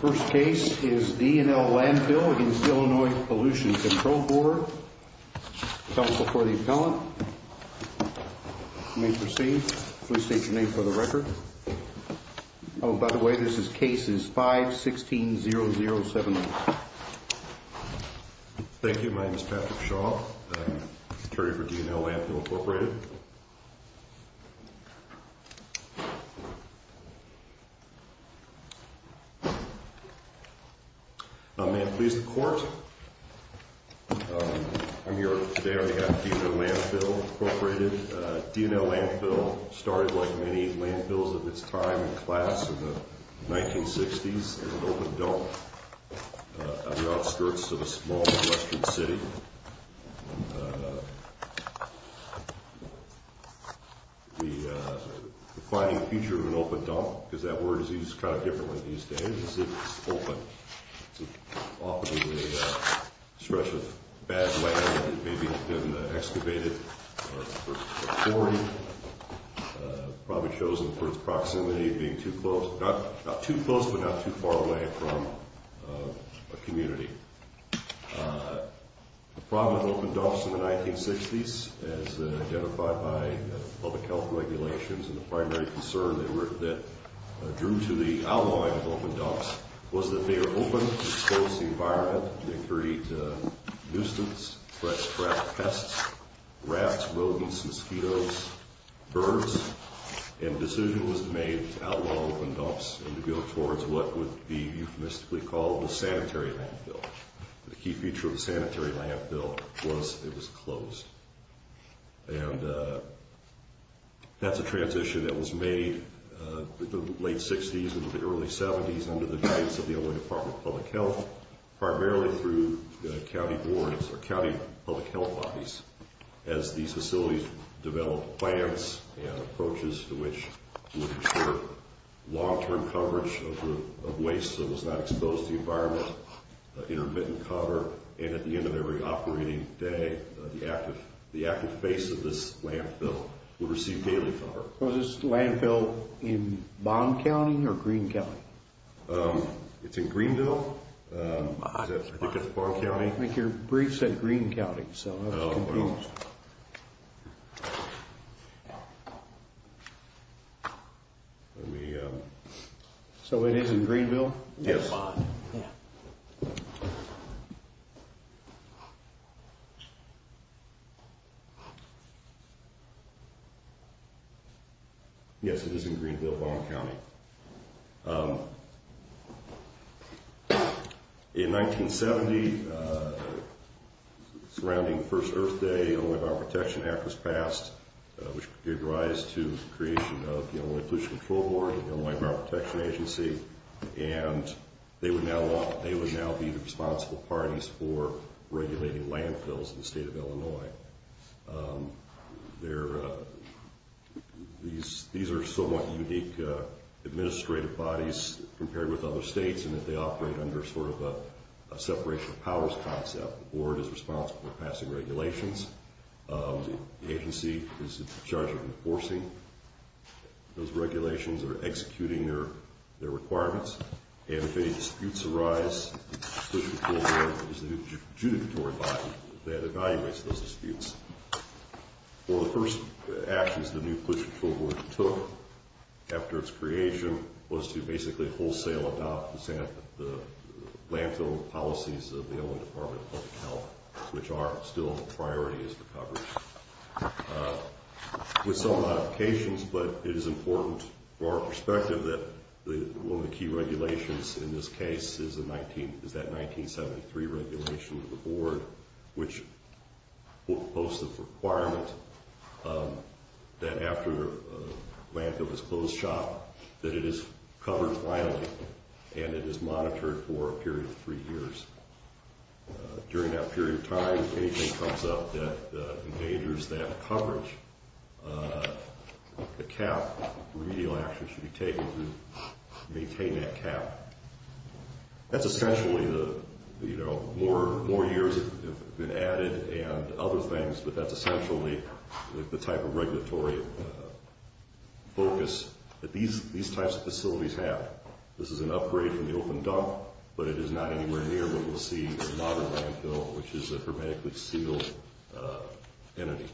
First case is D & L Landfill v. Illinois Pollution Control Board. Counsel for the appellant. You may proceed. Please state your name for the record. Oh, by the way, this case is 5-16-007. Thank you. My name is Patrick Shaw, attorney for D & L Landfill Incorporated. May it please the court, I'm here today on behalf of D & L Landfill Incorporated. D & L Landfill started, like many landfills of its time and class, in the 1960s as an open dump on the outskirts of a small western city. The defining feature of an open dump, because that word is used kind of differently these days, is that it's open. It's often a stretch of bad land that may have been excavated or quarried. Probably chosen for its proximity, being not too close but not too far away from a community. The problem with open dumps in the 1960s, as identified by public health regulations, and the primary concern that drew to the outlawing of open dumps, was that they were open to expose the environment. They create nuisance, fresh crap, pests, rats, rodents, mosquitoes, birds. And the decision was made to outlaw open dumps and to go towards what would be euphemistically called the sanitary landfill. The key feature of the sanitary landfill was it was closed. And that's a transition that was made in the late 60s into the early 70s under the guidance of the Illinois Department of Public Health, primarily through county boards or county public health bodies, as these facilities developed plans and approaches to which would ensure long-term coverage of waste that was not exposed to the environment, intermittent cover, and at the end of every operating day, the active base of this landfill would receive daily cover. Was this landfill in Bond County or Greene County? It's in Greeneville. I think it's Bond County. I think your brief said Greene County, so I was confused. So it is in Greeneville? Yes. Yes, it is in Greeneville, Bond County. In 1970, surrounding the first Earth Day, the Illinois Bioprotection Act was passed, which gave rise to the creation of the Illinois Pollution Control Board, the Illinois Bioprotection Agency, and they would now be the responsible parties for regulating landfills in the state of Illinois. These are somewhat unique administrative bodies compared with other states in that they operate under sort of a separation of powers concept. The board is responsible for passing regulations. The agency is in charge of enforcing those regulations or executing their requirements, and if any disputes arise, the pollution control board is the adjudicatory body that evaluates those disputes. One of the first actions the new pollution control board took after its creation was to basically wholesale adopt the landfill policies of the Illinois Department of Public Health, which are still a priority as the coverage. With some modifications, but it is important for our perspective that one of the key regulations in this case is that 1973 regulation of the board, which posts the requirement that after a landfill is closed shop, that it is covered finally, and it is monitored for a period of three years. During that period of time, if anything comes up that endangers that coverage, a cap, remedial action should be taken to maintain that cap. That's essentially the, you know, more years have been added and other things, but that's essentially the type of regulatory focus that these types of facilities have. This is an upgrade from the open dump, but it is not anywhere near what we'll see in the modern landfill, which is a hermetically sealed entity.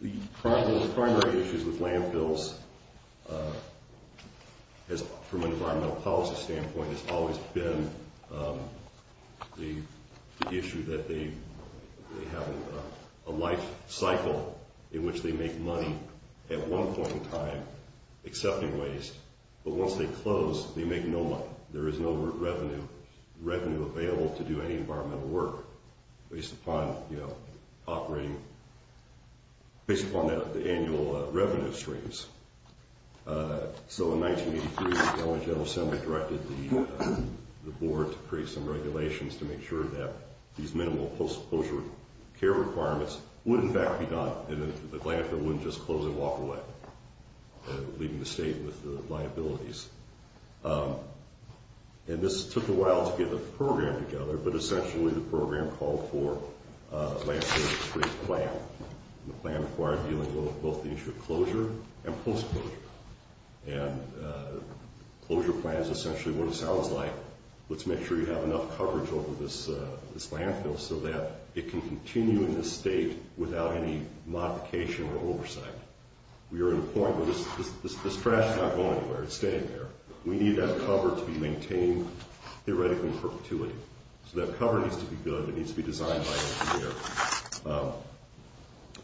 The primary issues with landfills, from an environmental policy standpoint, has always been the issue that they have a life cycle in which they make money at one point in time, accepting waste, but once they close, they make no money. There is no revenue available to do any environmental work based upon, you know, operating, based upon the annual revenue streams. So in 1983, the LA General Assembly directed the board to create some regulations to make sure that these minimal post-closure care requirements would, in fact, be done and the landfill wouldn't just close and walk away, leaving the state with the liabilities. And this took a while to get the program together, but essentially the program called for a post-closure, and the closure plan is essentially what it sounds like. Let's make sure you have enough coverage over this landfill so that it can continue in this state without any modification or oversight. We are at a point where this trash is not going anywhere. It's staying there. We need that cover to be maintained theoretically in perpetuity. So that cover needs to be good. It needs to be designed by engineers.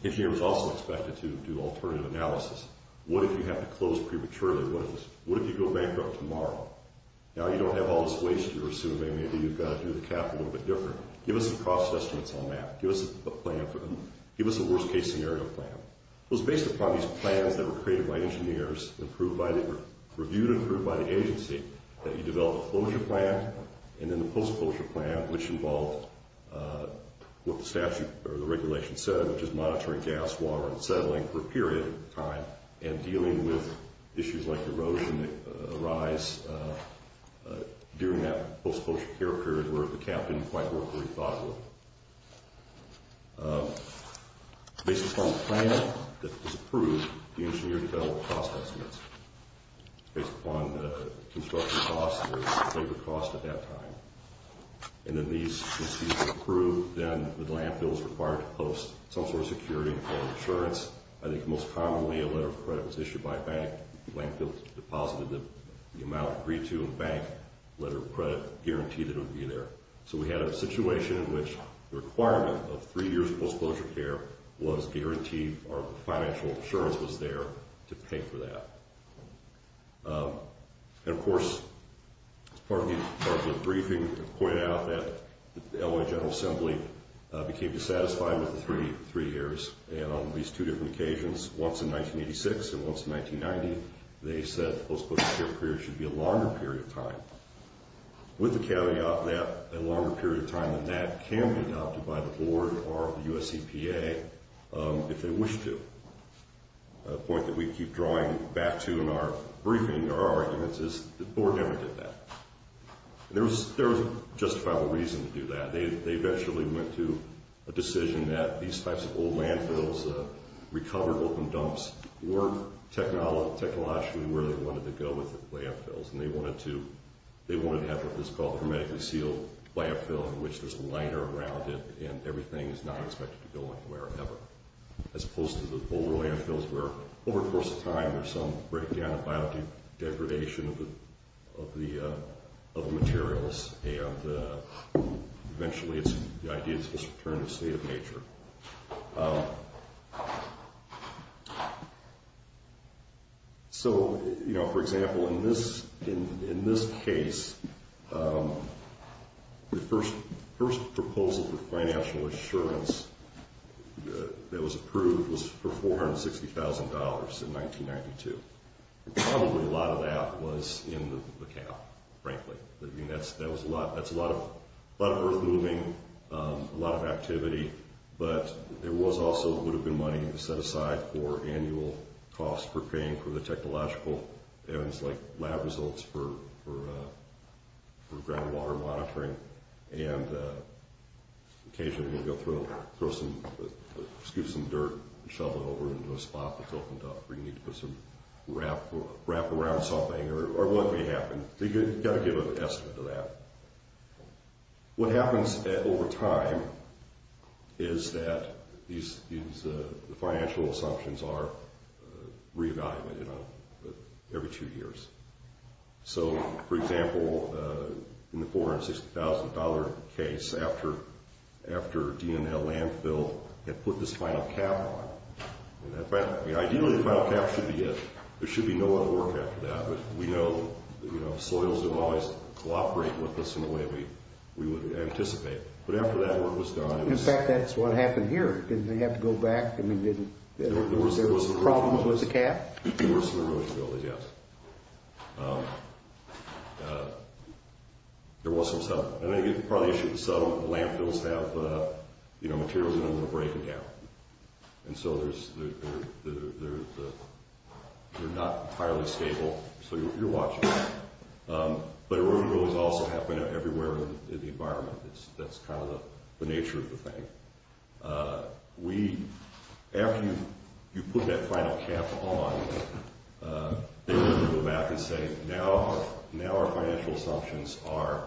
Engineers are also expected to do alternative analysis. What if you have to close prematurely? What if you go bankrupt tomorrow? Now you don't have all this waste you're assuming. Maybe you've got to do the cap a little bit different. Give us the cost estimates on that. Give us a plan for them. Give us a worst-case scenario plan. It was based upon these plans that were created by engineers and reviewed and approved by the agency that you develop a closure plan and then the post-closure plan, which involved what the statute or the regulation said, which is monitoring gas, water, and settling for a period of time and dealing with issues like erosion that arise during that post-closure care period where the cap didn't quite work the way we thought it would. Based upon the plan that was approved, the engineers developed cost estimates based upon the construction costs or labor costs at that time. And then these were approved then with landfills required to host some sort of security or insurance. I think most commonly a letter of credit was issued by a bank. Landfills deposited the amount agreed to in a bank letter of credit, guaranteed it would be there. So we had a situation in which the requirement of three years post-closure care was guaranteed or financial assurance was there to pay for that. And of course, as part of the briefing, I pointed out that the LA General Assembly became satisfied with the three years. And on at least two different occasions, once in 1986 and once in 1990, they said post-closure care period should be a longer period of time. With the caveat that a longer period of time than that can be adopted by the board or the US EPA if they wish to. The point that we keep drawing back to in our briefing or our arguments is the board never did that. There was justifiable reason to do that. They eventually went to a decision that these types of old landfills, recovered open dumps, weren't technologically where they wanted to go with the landfills. And they wanted to have what is called hermetically sealed landfill in which there's a liner around it and everything is not expected to go anywhere ever. As opposed to the older landfills where over the course of time there's some breakdown of biodegradation of the materials. And eventually the idea is to just return to state of nature. So, for example, in this case, the first proposal for financial assurance that was approved was for $460,000 in 1992. Probably a lot of that was in the cow, frankly. That was a lot. That's a lot of earth moving, a lot of activity. But there also would have been money to set aside for annual costs for paying for the technological ends like lab results for groundwater monitoring. And occasionally we'll go through and throw some, scoop some dirt and shovel it over into a spot that's open dump where you need to put some wrap around something or what may happen. You've got to give an estimate of that. What happens over time is that these financial assumptions are re-evaluated every two years. So, for example, in the $460,000 case, after DNL Landfill had put this final cap on, ideally the final cap should be it. There should be no other work after that. But we know soils have always cooperated with us in a way we would anticipate. But after that work was done, it was... In fact, that's what happened here. Didn't they have to go back? I mean, didn't there be problems with the cap? There was some erosion building, yes. There was some stuff. And I think part of the issue is some landfills have materials in them that are breaking down. And so they're not entirely stable. So you're watching. But erosion is also happening everywhere in the environment. That's kind of the nature of the thing. After you put that final cap on, they're going to go back and say, now our financial assumptions are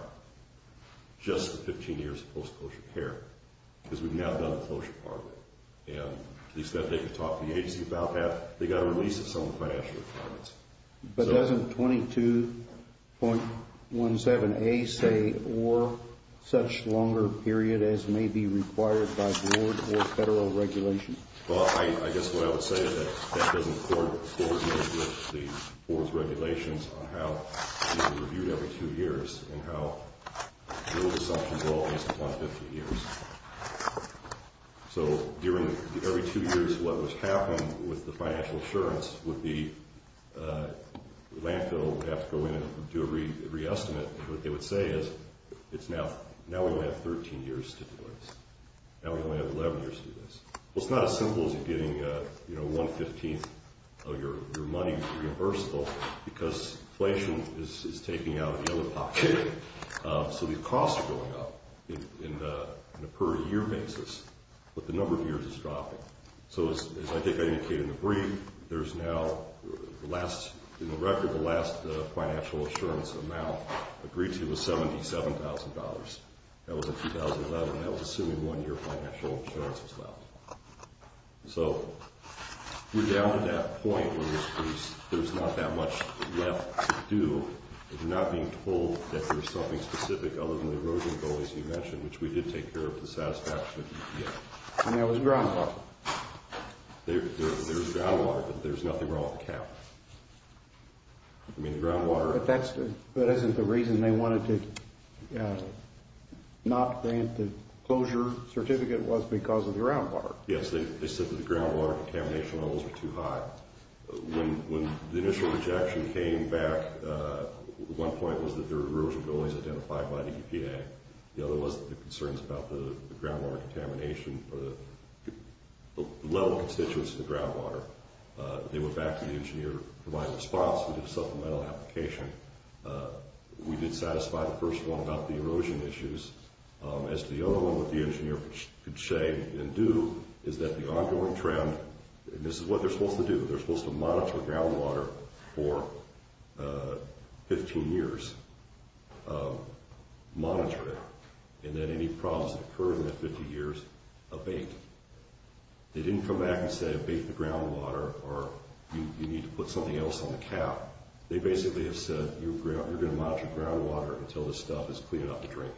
just the 15 years of post-closure care because we've now done the closure part of it. And at least that they could talk to the agency about that. They got a release of some of the financial requirements. But doesn't 22.17a say or such longer period as may be required by board or federal regulation? Well, I guess what I would say is that that doesn't coordinate with the board's regulations on how they're reviewed every two years and how those assumptions are always upon 15 years. So every two years, what was happening with the financial assurance would be the landfill would have to go in and do a re-estimate. What they would say is, now we only have 13 years to do this. Now we only have 11 years to do this. Well, it's not as simple as getting 1 15th of your money reimbursable because inflation is taking out the other pocket. So the costs are going up. In the per year basis, but the number of years is dropping. So as I think I indicated in the brief, there's now the last in the record, the last financial assurance amount agreed to was $77,000. That was in 2011. That was assuming one year financial insurance was left. So we're down to that point where there's not that much left to do. We're not being told that there's something specific other than the erosion goal, as you mentioned, which we did take care of the satisfaction of the EPA. And that was groundwater. There's groundwater, but there's nothing wrong with the cap. I mean, the groundwater. But that isn't the reason they wanted to not grant the closure certificate was because of the groundwater. Yes, they said that the groundwater contamination levels were too high. When the initial rejection came back, one point was that their erosion goal is identified by the EPA. The other was the concerns about the groundwater contamination or the level of constituents in the groundwater. They went back to the engineer to provide a response. We did a supplemental application. We did satisfy the first one about the erosion issues. As to the other one, what the engineer could say and do is that the ongoing trend, and this is what they're supposed to do. They're supposed to monitor groundwater for 15 years, monitor it, and then any problems that occur in that 15 years abate. They didn't come back and say abate the groundwater or you need to put something else on the cap. They basically have said you're going to monitor groundwater until this stuff is clean enough to drink.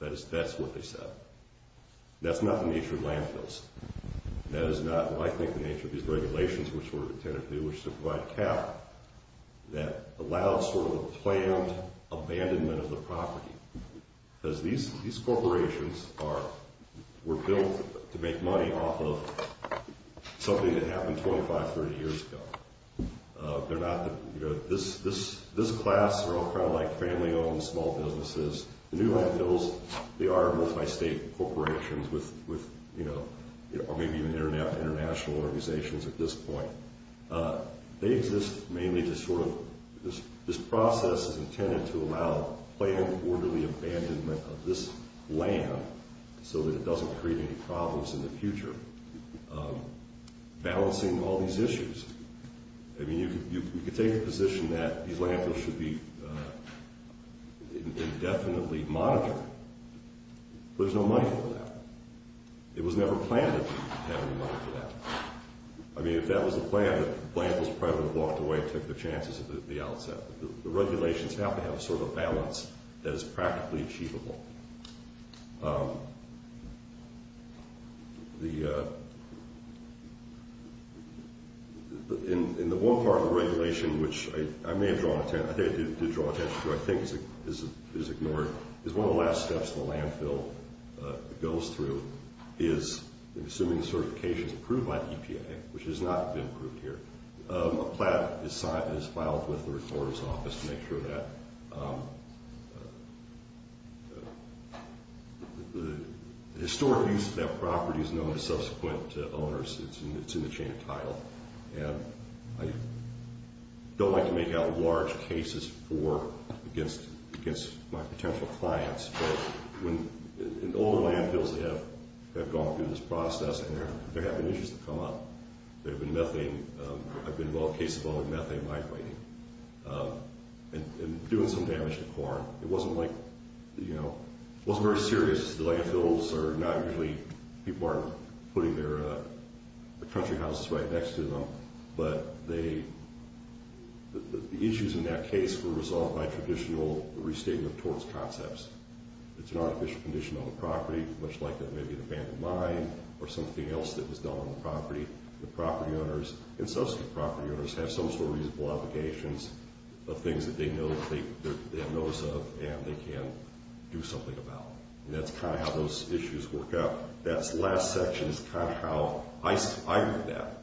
That's what they said. That's not the nature of landfills. That is not, I think, the nature of these regulations, which were intended to provide cap that allows sort of a planned abandonment of the property. Because these corporations were built to make money off of something that happened 25, 30 years ago. This class are all kind of like family-owned small businesses. The new landfills, they are multi-state corporations or maybe even international organizations at this point. They exist mainly to sort of, this process is intended to allow planned orderly abandonment of this land so that it doesn't create any problems in the future. Balancing all these issues. I mean, you could take the position that these landfills should be indefinitely monitored. There's no money for that. It was never planned that we would have any money for that. I mean, if that was the plan, the landfills probably would have walked away and took their chances at the outset. The regulations have to have a sort of balance that is practically achievable. The, in the one part of the regulation, which I may have drawn attention, I did draw attention to, I think is ignored, is one of the last steps the landfill goes through is, assuming the certification is approved by the EPA, which has not been approved here, a plan is filed with the recorder's office to make sure that the landfills are monitored. The historic use of that property is known to subsequent owners. It's in the chain of title. And I don't like to make out large cases for, against my potential clients. But when, in all the landfills that have gone through this process and they're having issues that come up, there have been methane, I've been involved in cases involving methane light lighting and doing some damage to corn. It wasn't like, you know, it wasn't very serious. The landfills are not usually, people aren't putting their country houses right next to them. But they, the issues in that case were resolved by traditional restatement of torts concepts. It's an artificial condition on the property, much like maybe an abandoned mine or something else that was done on the property. The property owners, and subsequent property owners, have some sort of reasonable obligations of things that they know, they have notice of, and they can do something about. And that's kind of how those issues work out. That last section is kind of how I read that.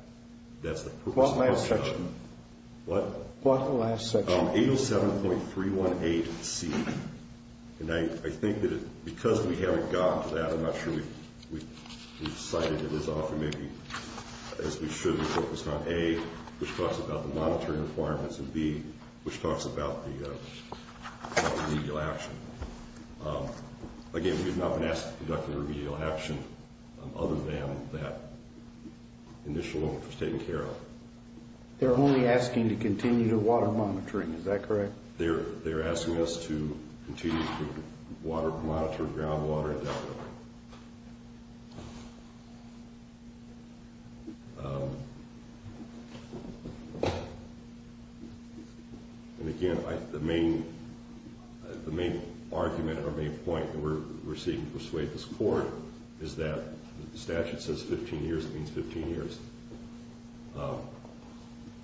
That's the purpose of my section. What? What's the last section? 807.318C. And I think that because we haven't gotten to that, I'm not sure we've cited it as often, as we should. We focused on A, which talks about the monitoring requirements, and B, which talks about the remedial action. Again, we have not been asked to conduct a remedial action other than that initial one was taken care of. They're only asking to continue to water monitoring, is that correct? They're asking us to continue to water, monitor groundwater and that kind of thing. And again, the main argument or main point that we're seeking to persuade this Court is that the statute says 15 years means 15 years.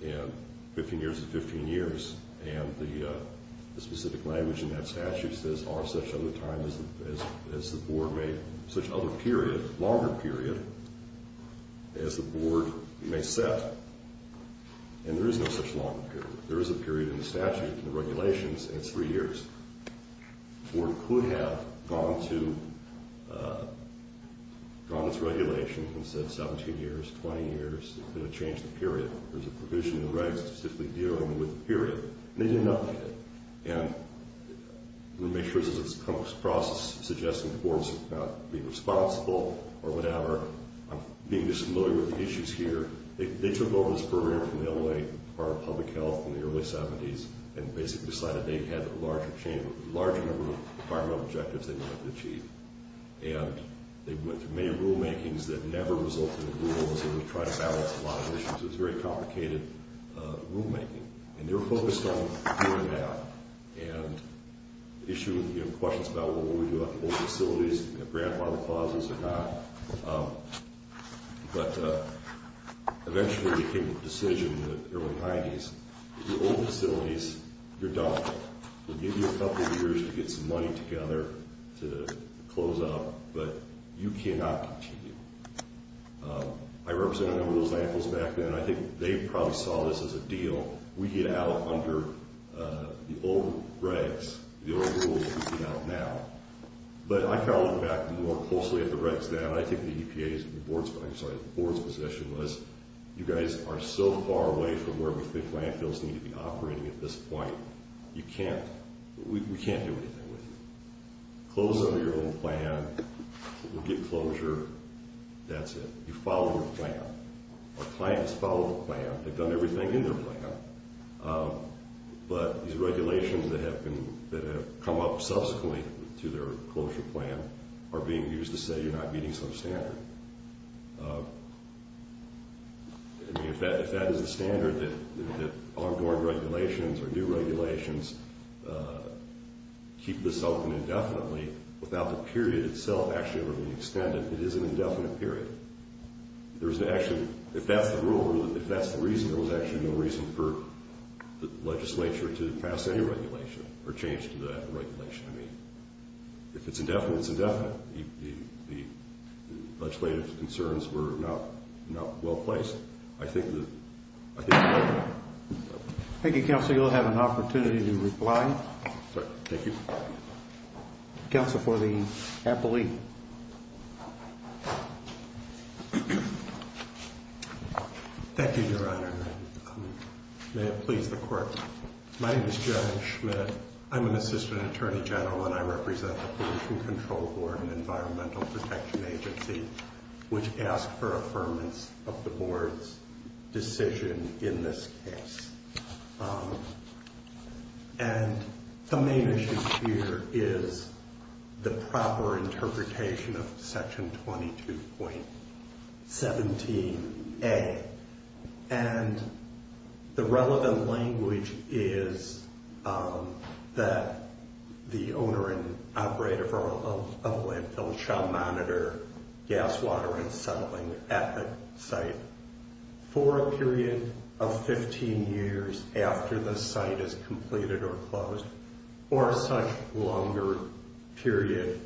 And 15 years is 15 years. And the specific language in that statute says, are such other times as the Board may, such other period, longer period, as the Board may set. And there is no such longer period. There is a period in the statute, in the regulations, and it's three years. The Board could have gone to, gone to its regulation and said 17 years, 20 years, it could have changed the period. There's a provision in the regs to simply deal with the period. And they didn't update it. And we make sure this is a process suggesting the Board's not being responsible or whatever. I'm being dismal with the issues here. They took over this barrier from the LA Department of Public Health in the early 70s and basically decided they had a larger chamber, a larger number of environmental objectives they wanted to achieve. And they went through many rulemakings that never resulted in rules. They would try to balance a lot of issues. It was very complicated rulemaking. And they were focused on doing that and issuing questions about what would we do about the old facilities, grandfather clauses or not. But eventually they came to the decision in the early 90s, the old facilities, you're done. We'll give you a couple years to get some money together to close up, but you cannot continue. I represented a number of those landfills back then. They probably saw this as a deal. We get out under the old regs, the old rules. We get out now. But I call it back more closely at the regs now. I think the EPA's, I'm sorry, the Board's position was you guys are so far away from where we think landfills need to be operating at this point. You can't, we can't do anything with you. Close under your own plan. We'll get closure. That's it. You follow your plan. Our clients follow the plan. They've done everything in their plan. But these regulations that have been, that have come up subsequently to their closure plan are being used to say you're not meeting some standard. I mean, if that is a standard that ongoing regulations or new regulations keep this open indefinitely without the period itself actually ever being extended, it is an indefinite period. There's actually, if that's the rule, if that's the reason, there was actually no reason for the legislature to pass any regulation or change to that regulation. I mean, if it's indefinite, it's indefinite. The legislative concerns were not well placed. I think that, I think. Thank you, Counselor. You'll have an opportunity to reply. Sorry, thank you. Counsel for the appellee. Thank you, Your Honor. May it please the Court. My name is Gerald Schmidt. I'm an Assistant Attorney General and I represent the Pollution Control Board and Environmental Protection Agency, which asked for affirmance of the Board's decision in this case. And the main issue here is the proper interpretation of Section 22.17a and the relevant language is that the owner and operator of a landfill shall monitor gas, water, and settling at site for a period of 15 years after the site is completed or closed, or such longer period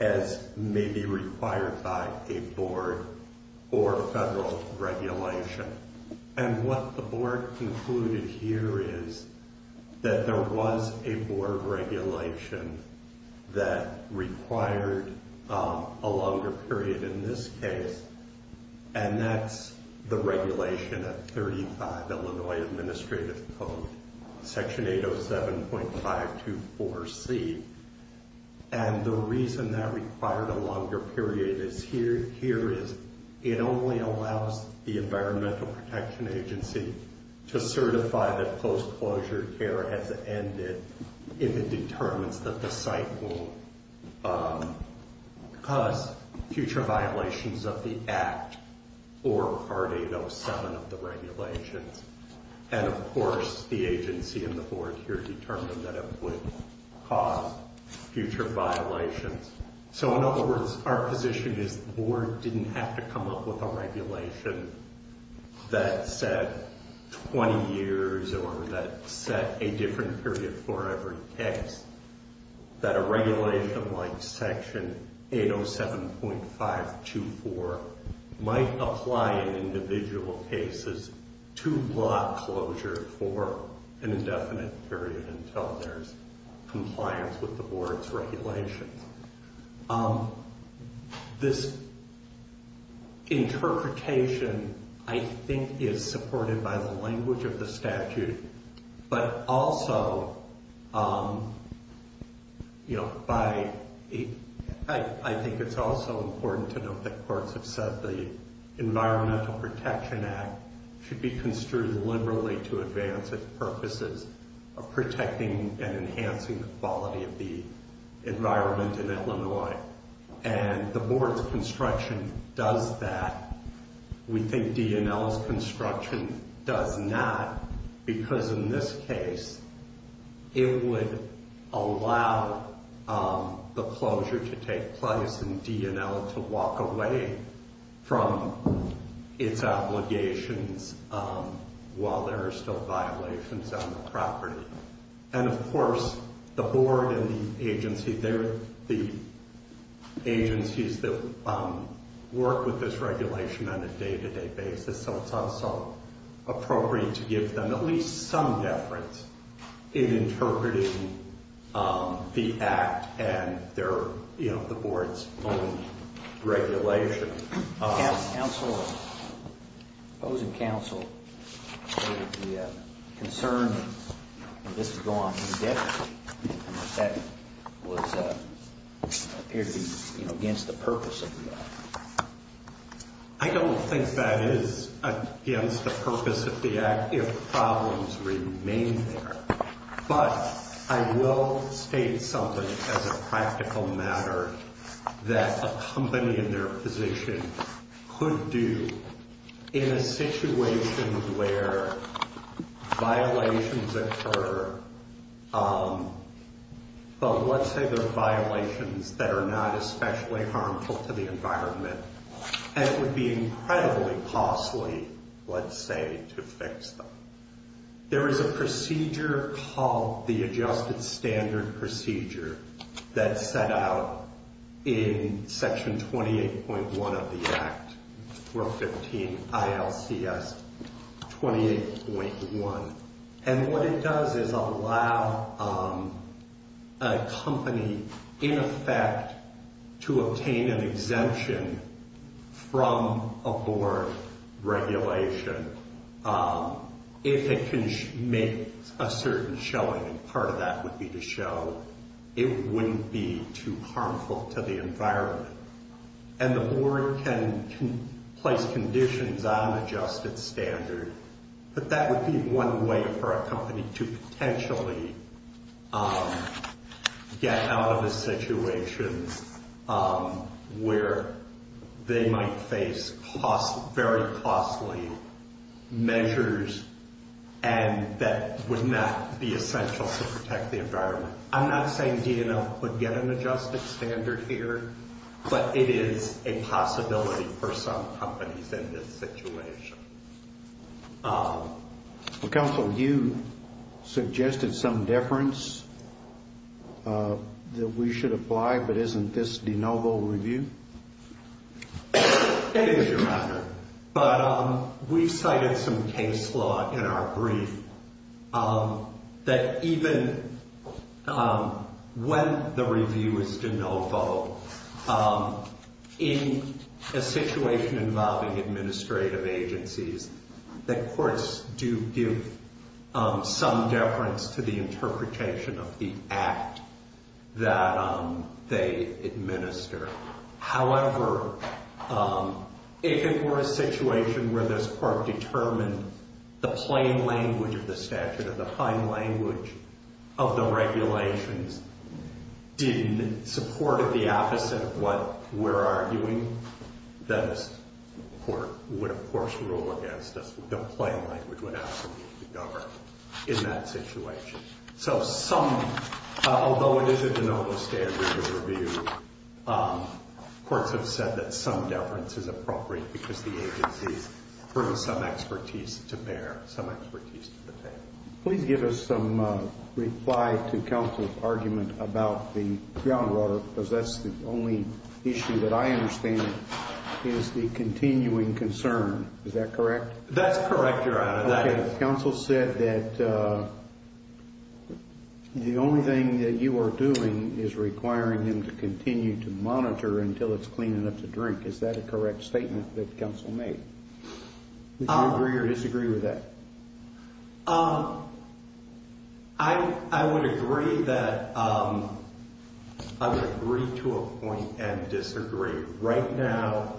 as may be required by a Board or federal regulation. And what the Board concluded here is that there was a Board regulation that required a longer period in this case. And that's the regulation of 35 Illinois Administrative Code, Section 807.524c. And the reason that required a longer period is here is it only allows the Environmental Protection Agency to certify that post-closure care has ended if it determines that the site will cause future violations of the Act or Part 807 of the regulations. And, of course, the agency and the Board here determined that it would cause future violations. So, in other words, our position is the Board didn't have to come up with a regulation that said 20 years or that set a different period for every case. That a regulation like Section 807.524 might apply in individual cases to block closure for an indefinite period until there's compliance with the Board's regulations. Um, this interpretation, I think, is supported by the language of the statute, but also, you know, by, I think it's also important to note that courts have said the Environmental Protection Act should be construed liberally to advance its purposes of protecting and protecting land in Illinois. And the Board's construction does that. We think D&L's construction does not because, in this case, it would allow the closure to take place and D&L to walk away from its obligations while there are still violations on the property. And, of course, the Board and the agency, they're the agencies that work with this regulation on a day-to-day basis. So, it's also appropriate to give them at least some deference in interpreting the Act and their, you know, the Board's own regulation. Counsel, opposing counsel, stated the concern that this would go on indefinitely, and that that was, uh, appeared to be, you know, against the purpose of the Act. I don't think that is against the purpose of the Act if problems remain there. But I will state something as a practical matter that a company in their position could do in a situation where violations occur, but let's say they're violations that are not especially harmful to the environment, and it would be incredibly costly, let's say, to fix them. There is a procedure called the Adjusted Standard Procedure that's set out in Section 28.1 of the Act, Rule 15, ILCS 28.1. And what it does is allow a company, in effect, to obtain an exemption from a Board regulation if it can make a certain showing, and part of that would be to show it wouldn't be too harmful to the environment. And the Board can place conditions on Adjusted Standard, but that would be one way for a company to potentially get out of a situation where they might face very costly measures and that would not be essential to protect the environment. I'm not saying DNL would get an Adjusted Standard here, but it is a possibility for some companies in this situation. Well, Counsel, you suggested some deference that we should apply, but isn't this de novo review? Thank you, Your Honor. But we've cited some case law in our brief that even when the review is de novo, in a situation involving administrative agencies, the courts do give some deference to the interpretation of the Act that they administer. However, if it were a situation where this Court determined the plain language of the statute or the fine language of the regulations didn't support the opposite of what we're arguing, then this Court would, of course, rule against us. The plain language would absolutely govern in that situation. So some, although it is a de novo standard review, courts have said that some deference is appropriate because the agencies bring some expertise to bear, some expertise to the table. Please give us some reply to Counsel's argument about the groundwater, because that's the only issue that I understand is the continuing concern. Is that correct? That's correct, Your Honor. Okay. Counsel said that the only thing that you are doing is requiring them to continue to monitor until it's clean enough to drink. Is that a correct statement that Counsel made? Would you agree or disagree with that? I would agree to a point and disagree. Right now,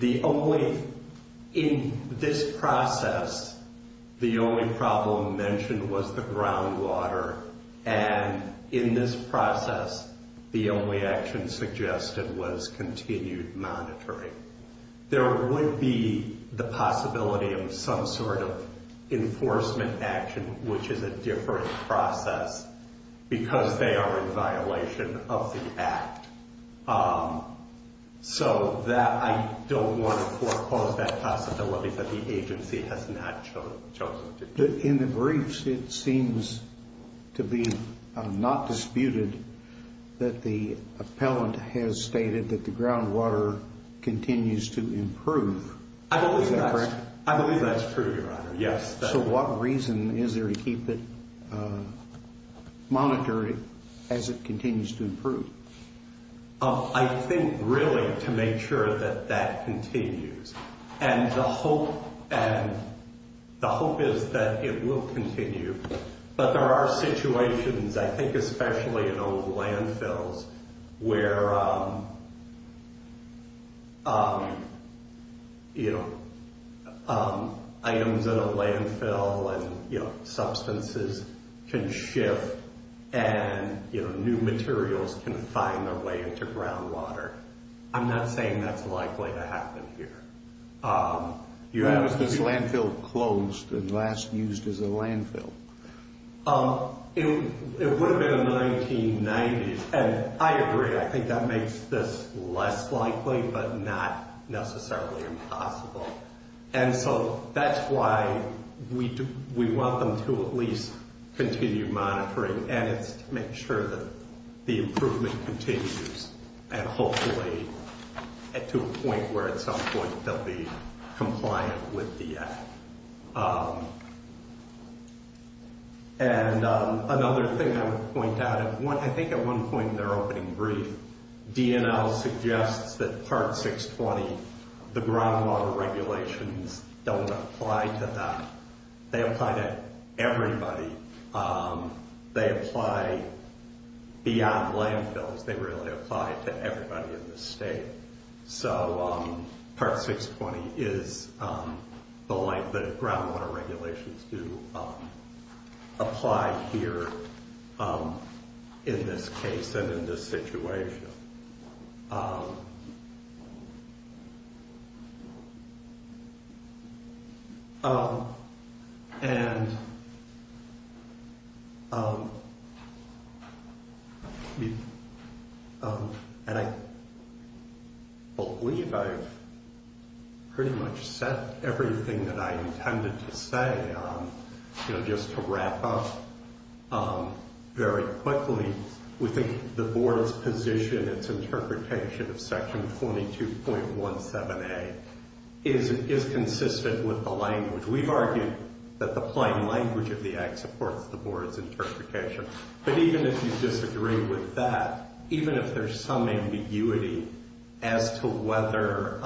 in this process, the only problem mentioned was the groundwater, and in this process, the only action suggested was continued monitoring. There would be the possibility of some sort of enforcement action, which is a different process, because they are in violation of the Act. So I don't want to foreclose that possibility that the agency has not chosen to do. In the briefs, it seems to be not disputed that the appellant has stated that the groundwater continues to improve. Is that correct? I believe that's true, Your Honor. Yes. So what reason is there to keep it monitored as it continues to improve? I think really to make sure that that continues, and the hope is that it will continue. But there are situations, I think especially in old landfills, where items in a landfill and substances can shift, and new materials can find their way into groundwater. I'm not saying that's likely to happen here. When was this landfill closed and last used as a landfill? It would have been in the 1990s, and I agree. I think that makes this less likely, but not necessarily impossible. And so that's why we want them to at least continue monitoring, and it's to make sure that the improvement continues, and hopefully to a point where they'll be compliant with the Act. And another thing I would point out, I think at one point in their opening brief, DNL suggests that Part 620, the groundwater regulations, don't apply to that. They apply to everybody. They apply beyond landfills. They really apply to everybody in the state. So Part 620 is the length that groundwater regulations do apply here in this case, and in this situation. And I believe I've pretty much said everything that I intended to say, just to wrap up very quickly. We think the Board's position, its interpretation of Section 22.17a is consistent with the language. We've argued that the plain language of the Act supports the Board's interpretation. But even if you disagree with that, even if there's some ambiguity as to whether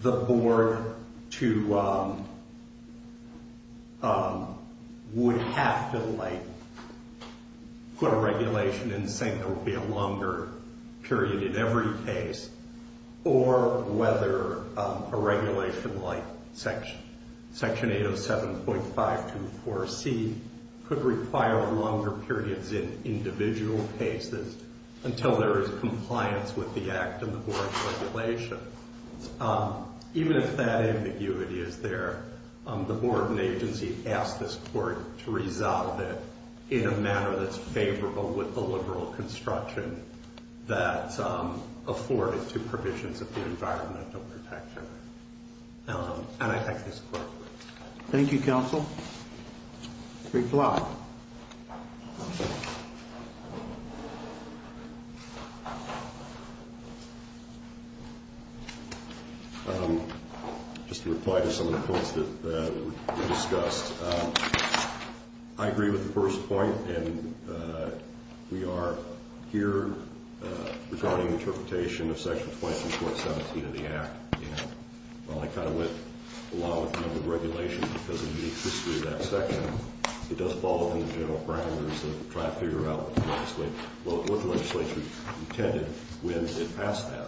the Board would have to put a regulation in saying there would be a longer period in every case, or whether a regulation like Section 807.524c could require longer periods in compliance with the Act and the Board's regulations, even if that ambiguity is there, the Board and agency ask this Court to resolve it in a manner that's favorable with the liberal construction that's afforded to provisions of the Environmental Protection Act. And I thank this Thank you, Counsel. Great job. Just to reply to some of the points that were discussed. I agree with the first point, and we are here regarding interpretation of Section 22.17 of the Act. And while I kind of went along with the regulation because of the unique history of that section, it does fall within the general parameters of trying to figure out what the legislature intended when it passed that.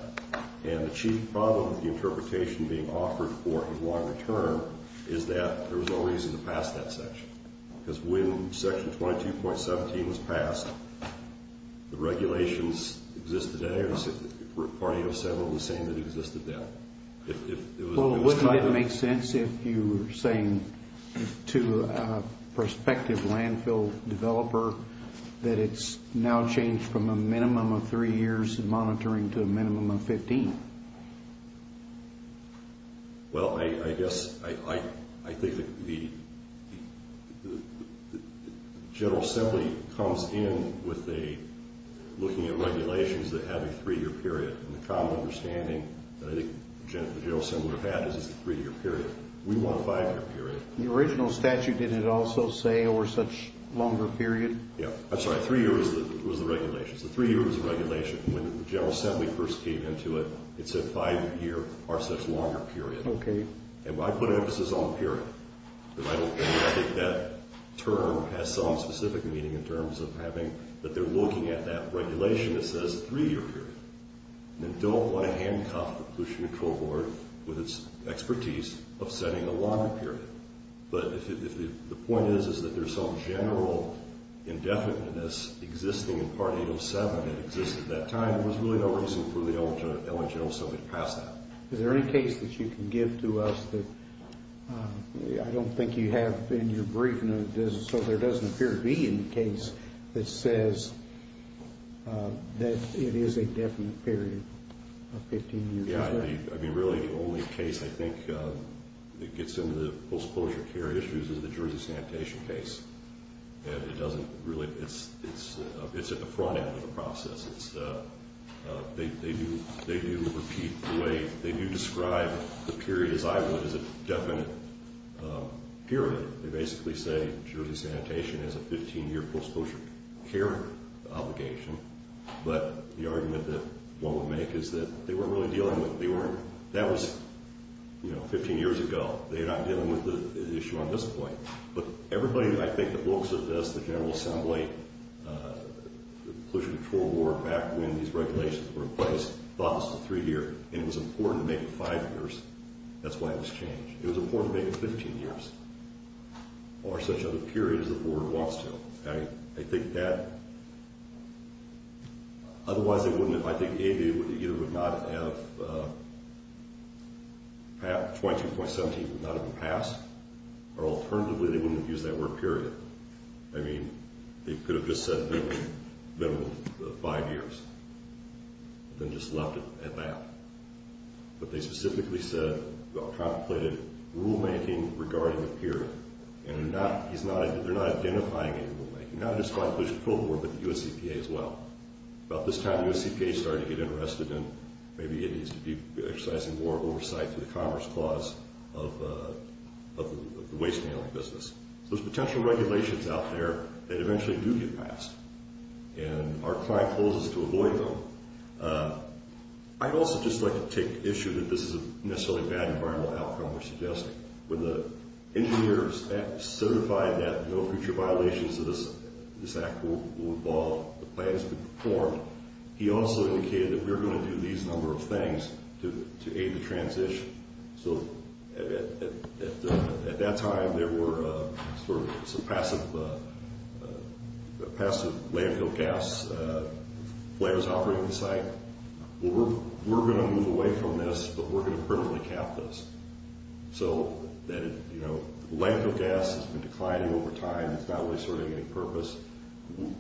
And the chief problem with the interpretation being offered for a longer term is that there was no reason to pass that section. Because when Section 22.17 was passed, the regulations existed then, party of several of the same that existed then. Well, it wouldn't make sense if you were saying to a prospective landfill developer that it's now changed from a minimum of three years of monitoring to a minimum of 15. Well, I guess I think that the General Assembly comes in with a, looking at regulations that have a three-year period, and the common understanding that I think the General Assembly would have had is it's a three-year period. We want a five-year period. The original statute, did it also say, or such longer period? Yeah. I'm sorry, three years was the regulations. The three years was the regulation. When the General Assembly first came into it, it said five-year or such longer period. Okay. And I put emphasis on period. I think that term has some specific meaning in terms of having, that they're looking at that regulation that says three-year period, and don't want to handcuff the pollution control board with its expertise of setting a longer period. But the point is, is that there's some general indefiniteness existing in Part 807 that exists at that time. There was really no reason for the L.A. General Assembly to pass that. Is there any case that you can give to us that, I don't think you have in your brief, so there doesn't appear to be any case that says that it is a definite period of 15 years? Yeah. I mean, really the only case I think that gets into the post-closure care issues is the Jersey Sanitation case. And it doesn't really, it's at the front end of the process. They do repeat the way, they do describe the period as I would, as a definite period. They basically say Jersey Sanitation has a 15-year post-closure care obligation. But the argument that one would make is that they weren't really dealing with, they weren't, that was, you know, 15 years ago. They're not dealing with the issue on this point. But everybody that I think that looks at this, the General Assembly, the pollution control board, back when these regulations were in place, thought this was three years, and it was important to make it five years, that's why it was changed. It was important to make it 15 years, or such a period as the board wants to. I think that, otherwise they wouldn't have, I think they either would not have, 22.17 would not have been passed, or alternatively they wouldn't have used that word period. I mean, they could have just said minimum five years, and then just left it at that. But they specifically said, well, contemplated rulemaking regarding the period, and they're not, he's not, they're not identifying any rulemaking, not just by pollution control board, but the USCPA as well. About this time the USCPA started to get interested in, maybe it needs to be exercising more regulations out there that eventually do get passed, and our client told us to avoid them. I'd also just like to take issue that this is a necessarily bad environmental outcome we're suggesting. When the engineer certified that no future violations of this act will evolve, the plan has been performed, he also indicated that we're going to do these number of things to aid the transition. So at that time there were sort of some passive landfill gas flares operating the site. We're going to move away from this, but we're going to permanently cap this. So that, you know, landfill gas has been declining over time, it's not really serving any purpose.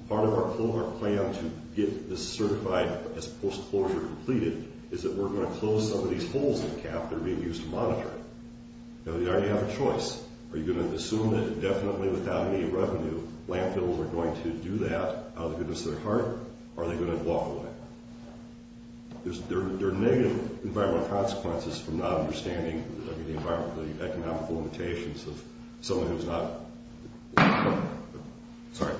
Part of our plan to get this certified as post-closure completed is that we're going to close some of these holes in the cap that are being used to monitor it. Now you already have a choice. Are you going to assume that indefinitely without any revenue, landfills are going to do that out of the goodness of their heart, or are they going to walk away? There's, there are negative environmental consequences from not understanding the environmental, the economical limitations of someone who's not, sorry.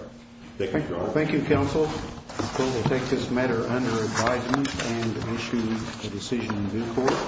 Thank you. Thank you, counsel. I think we'll take this matter under advisement and issue a decision in due course.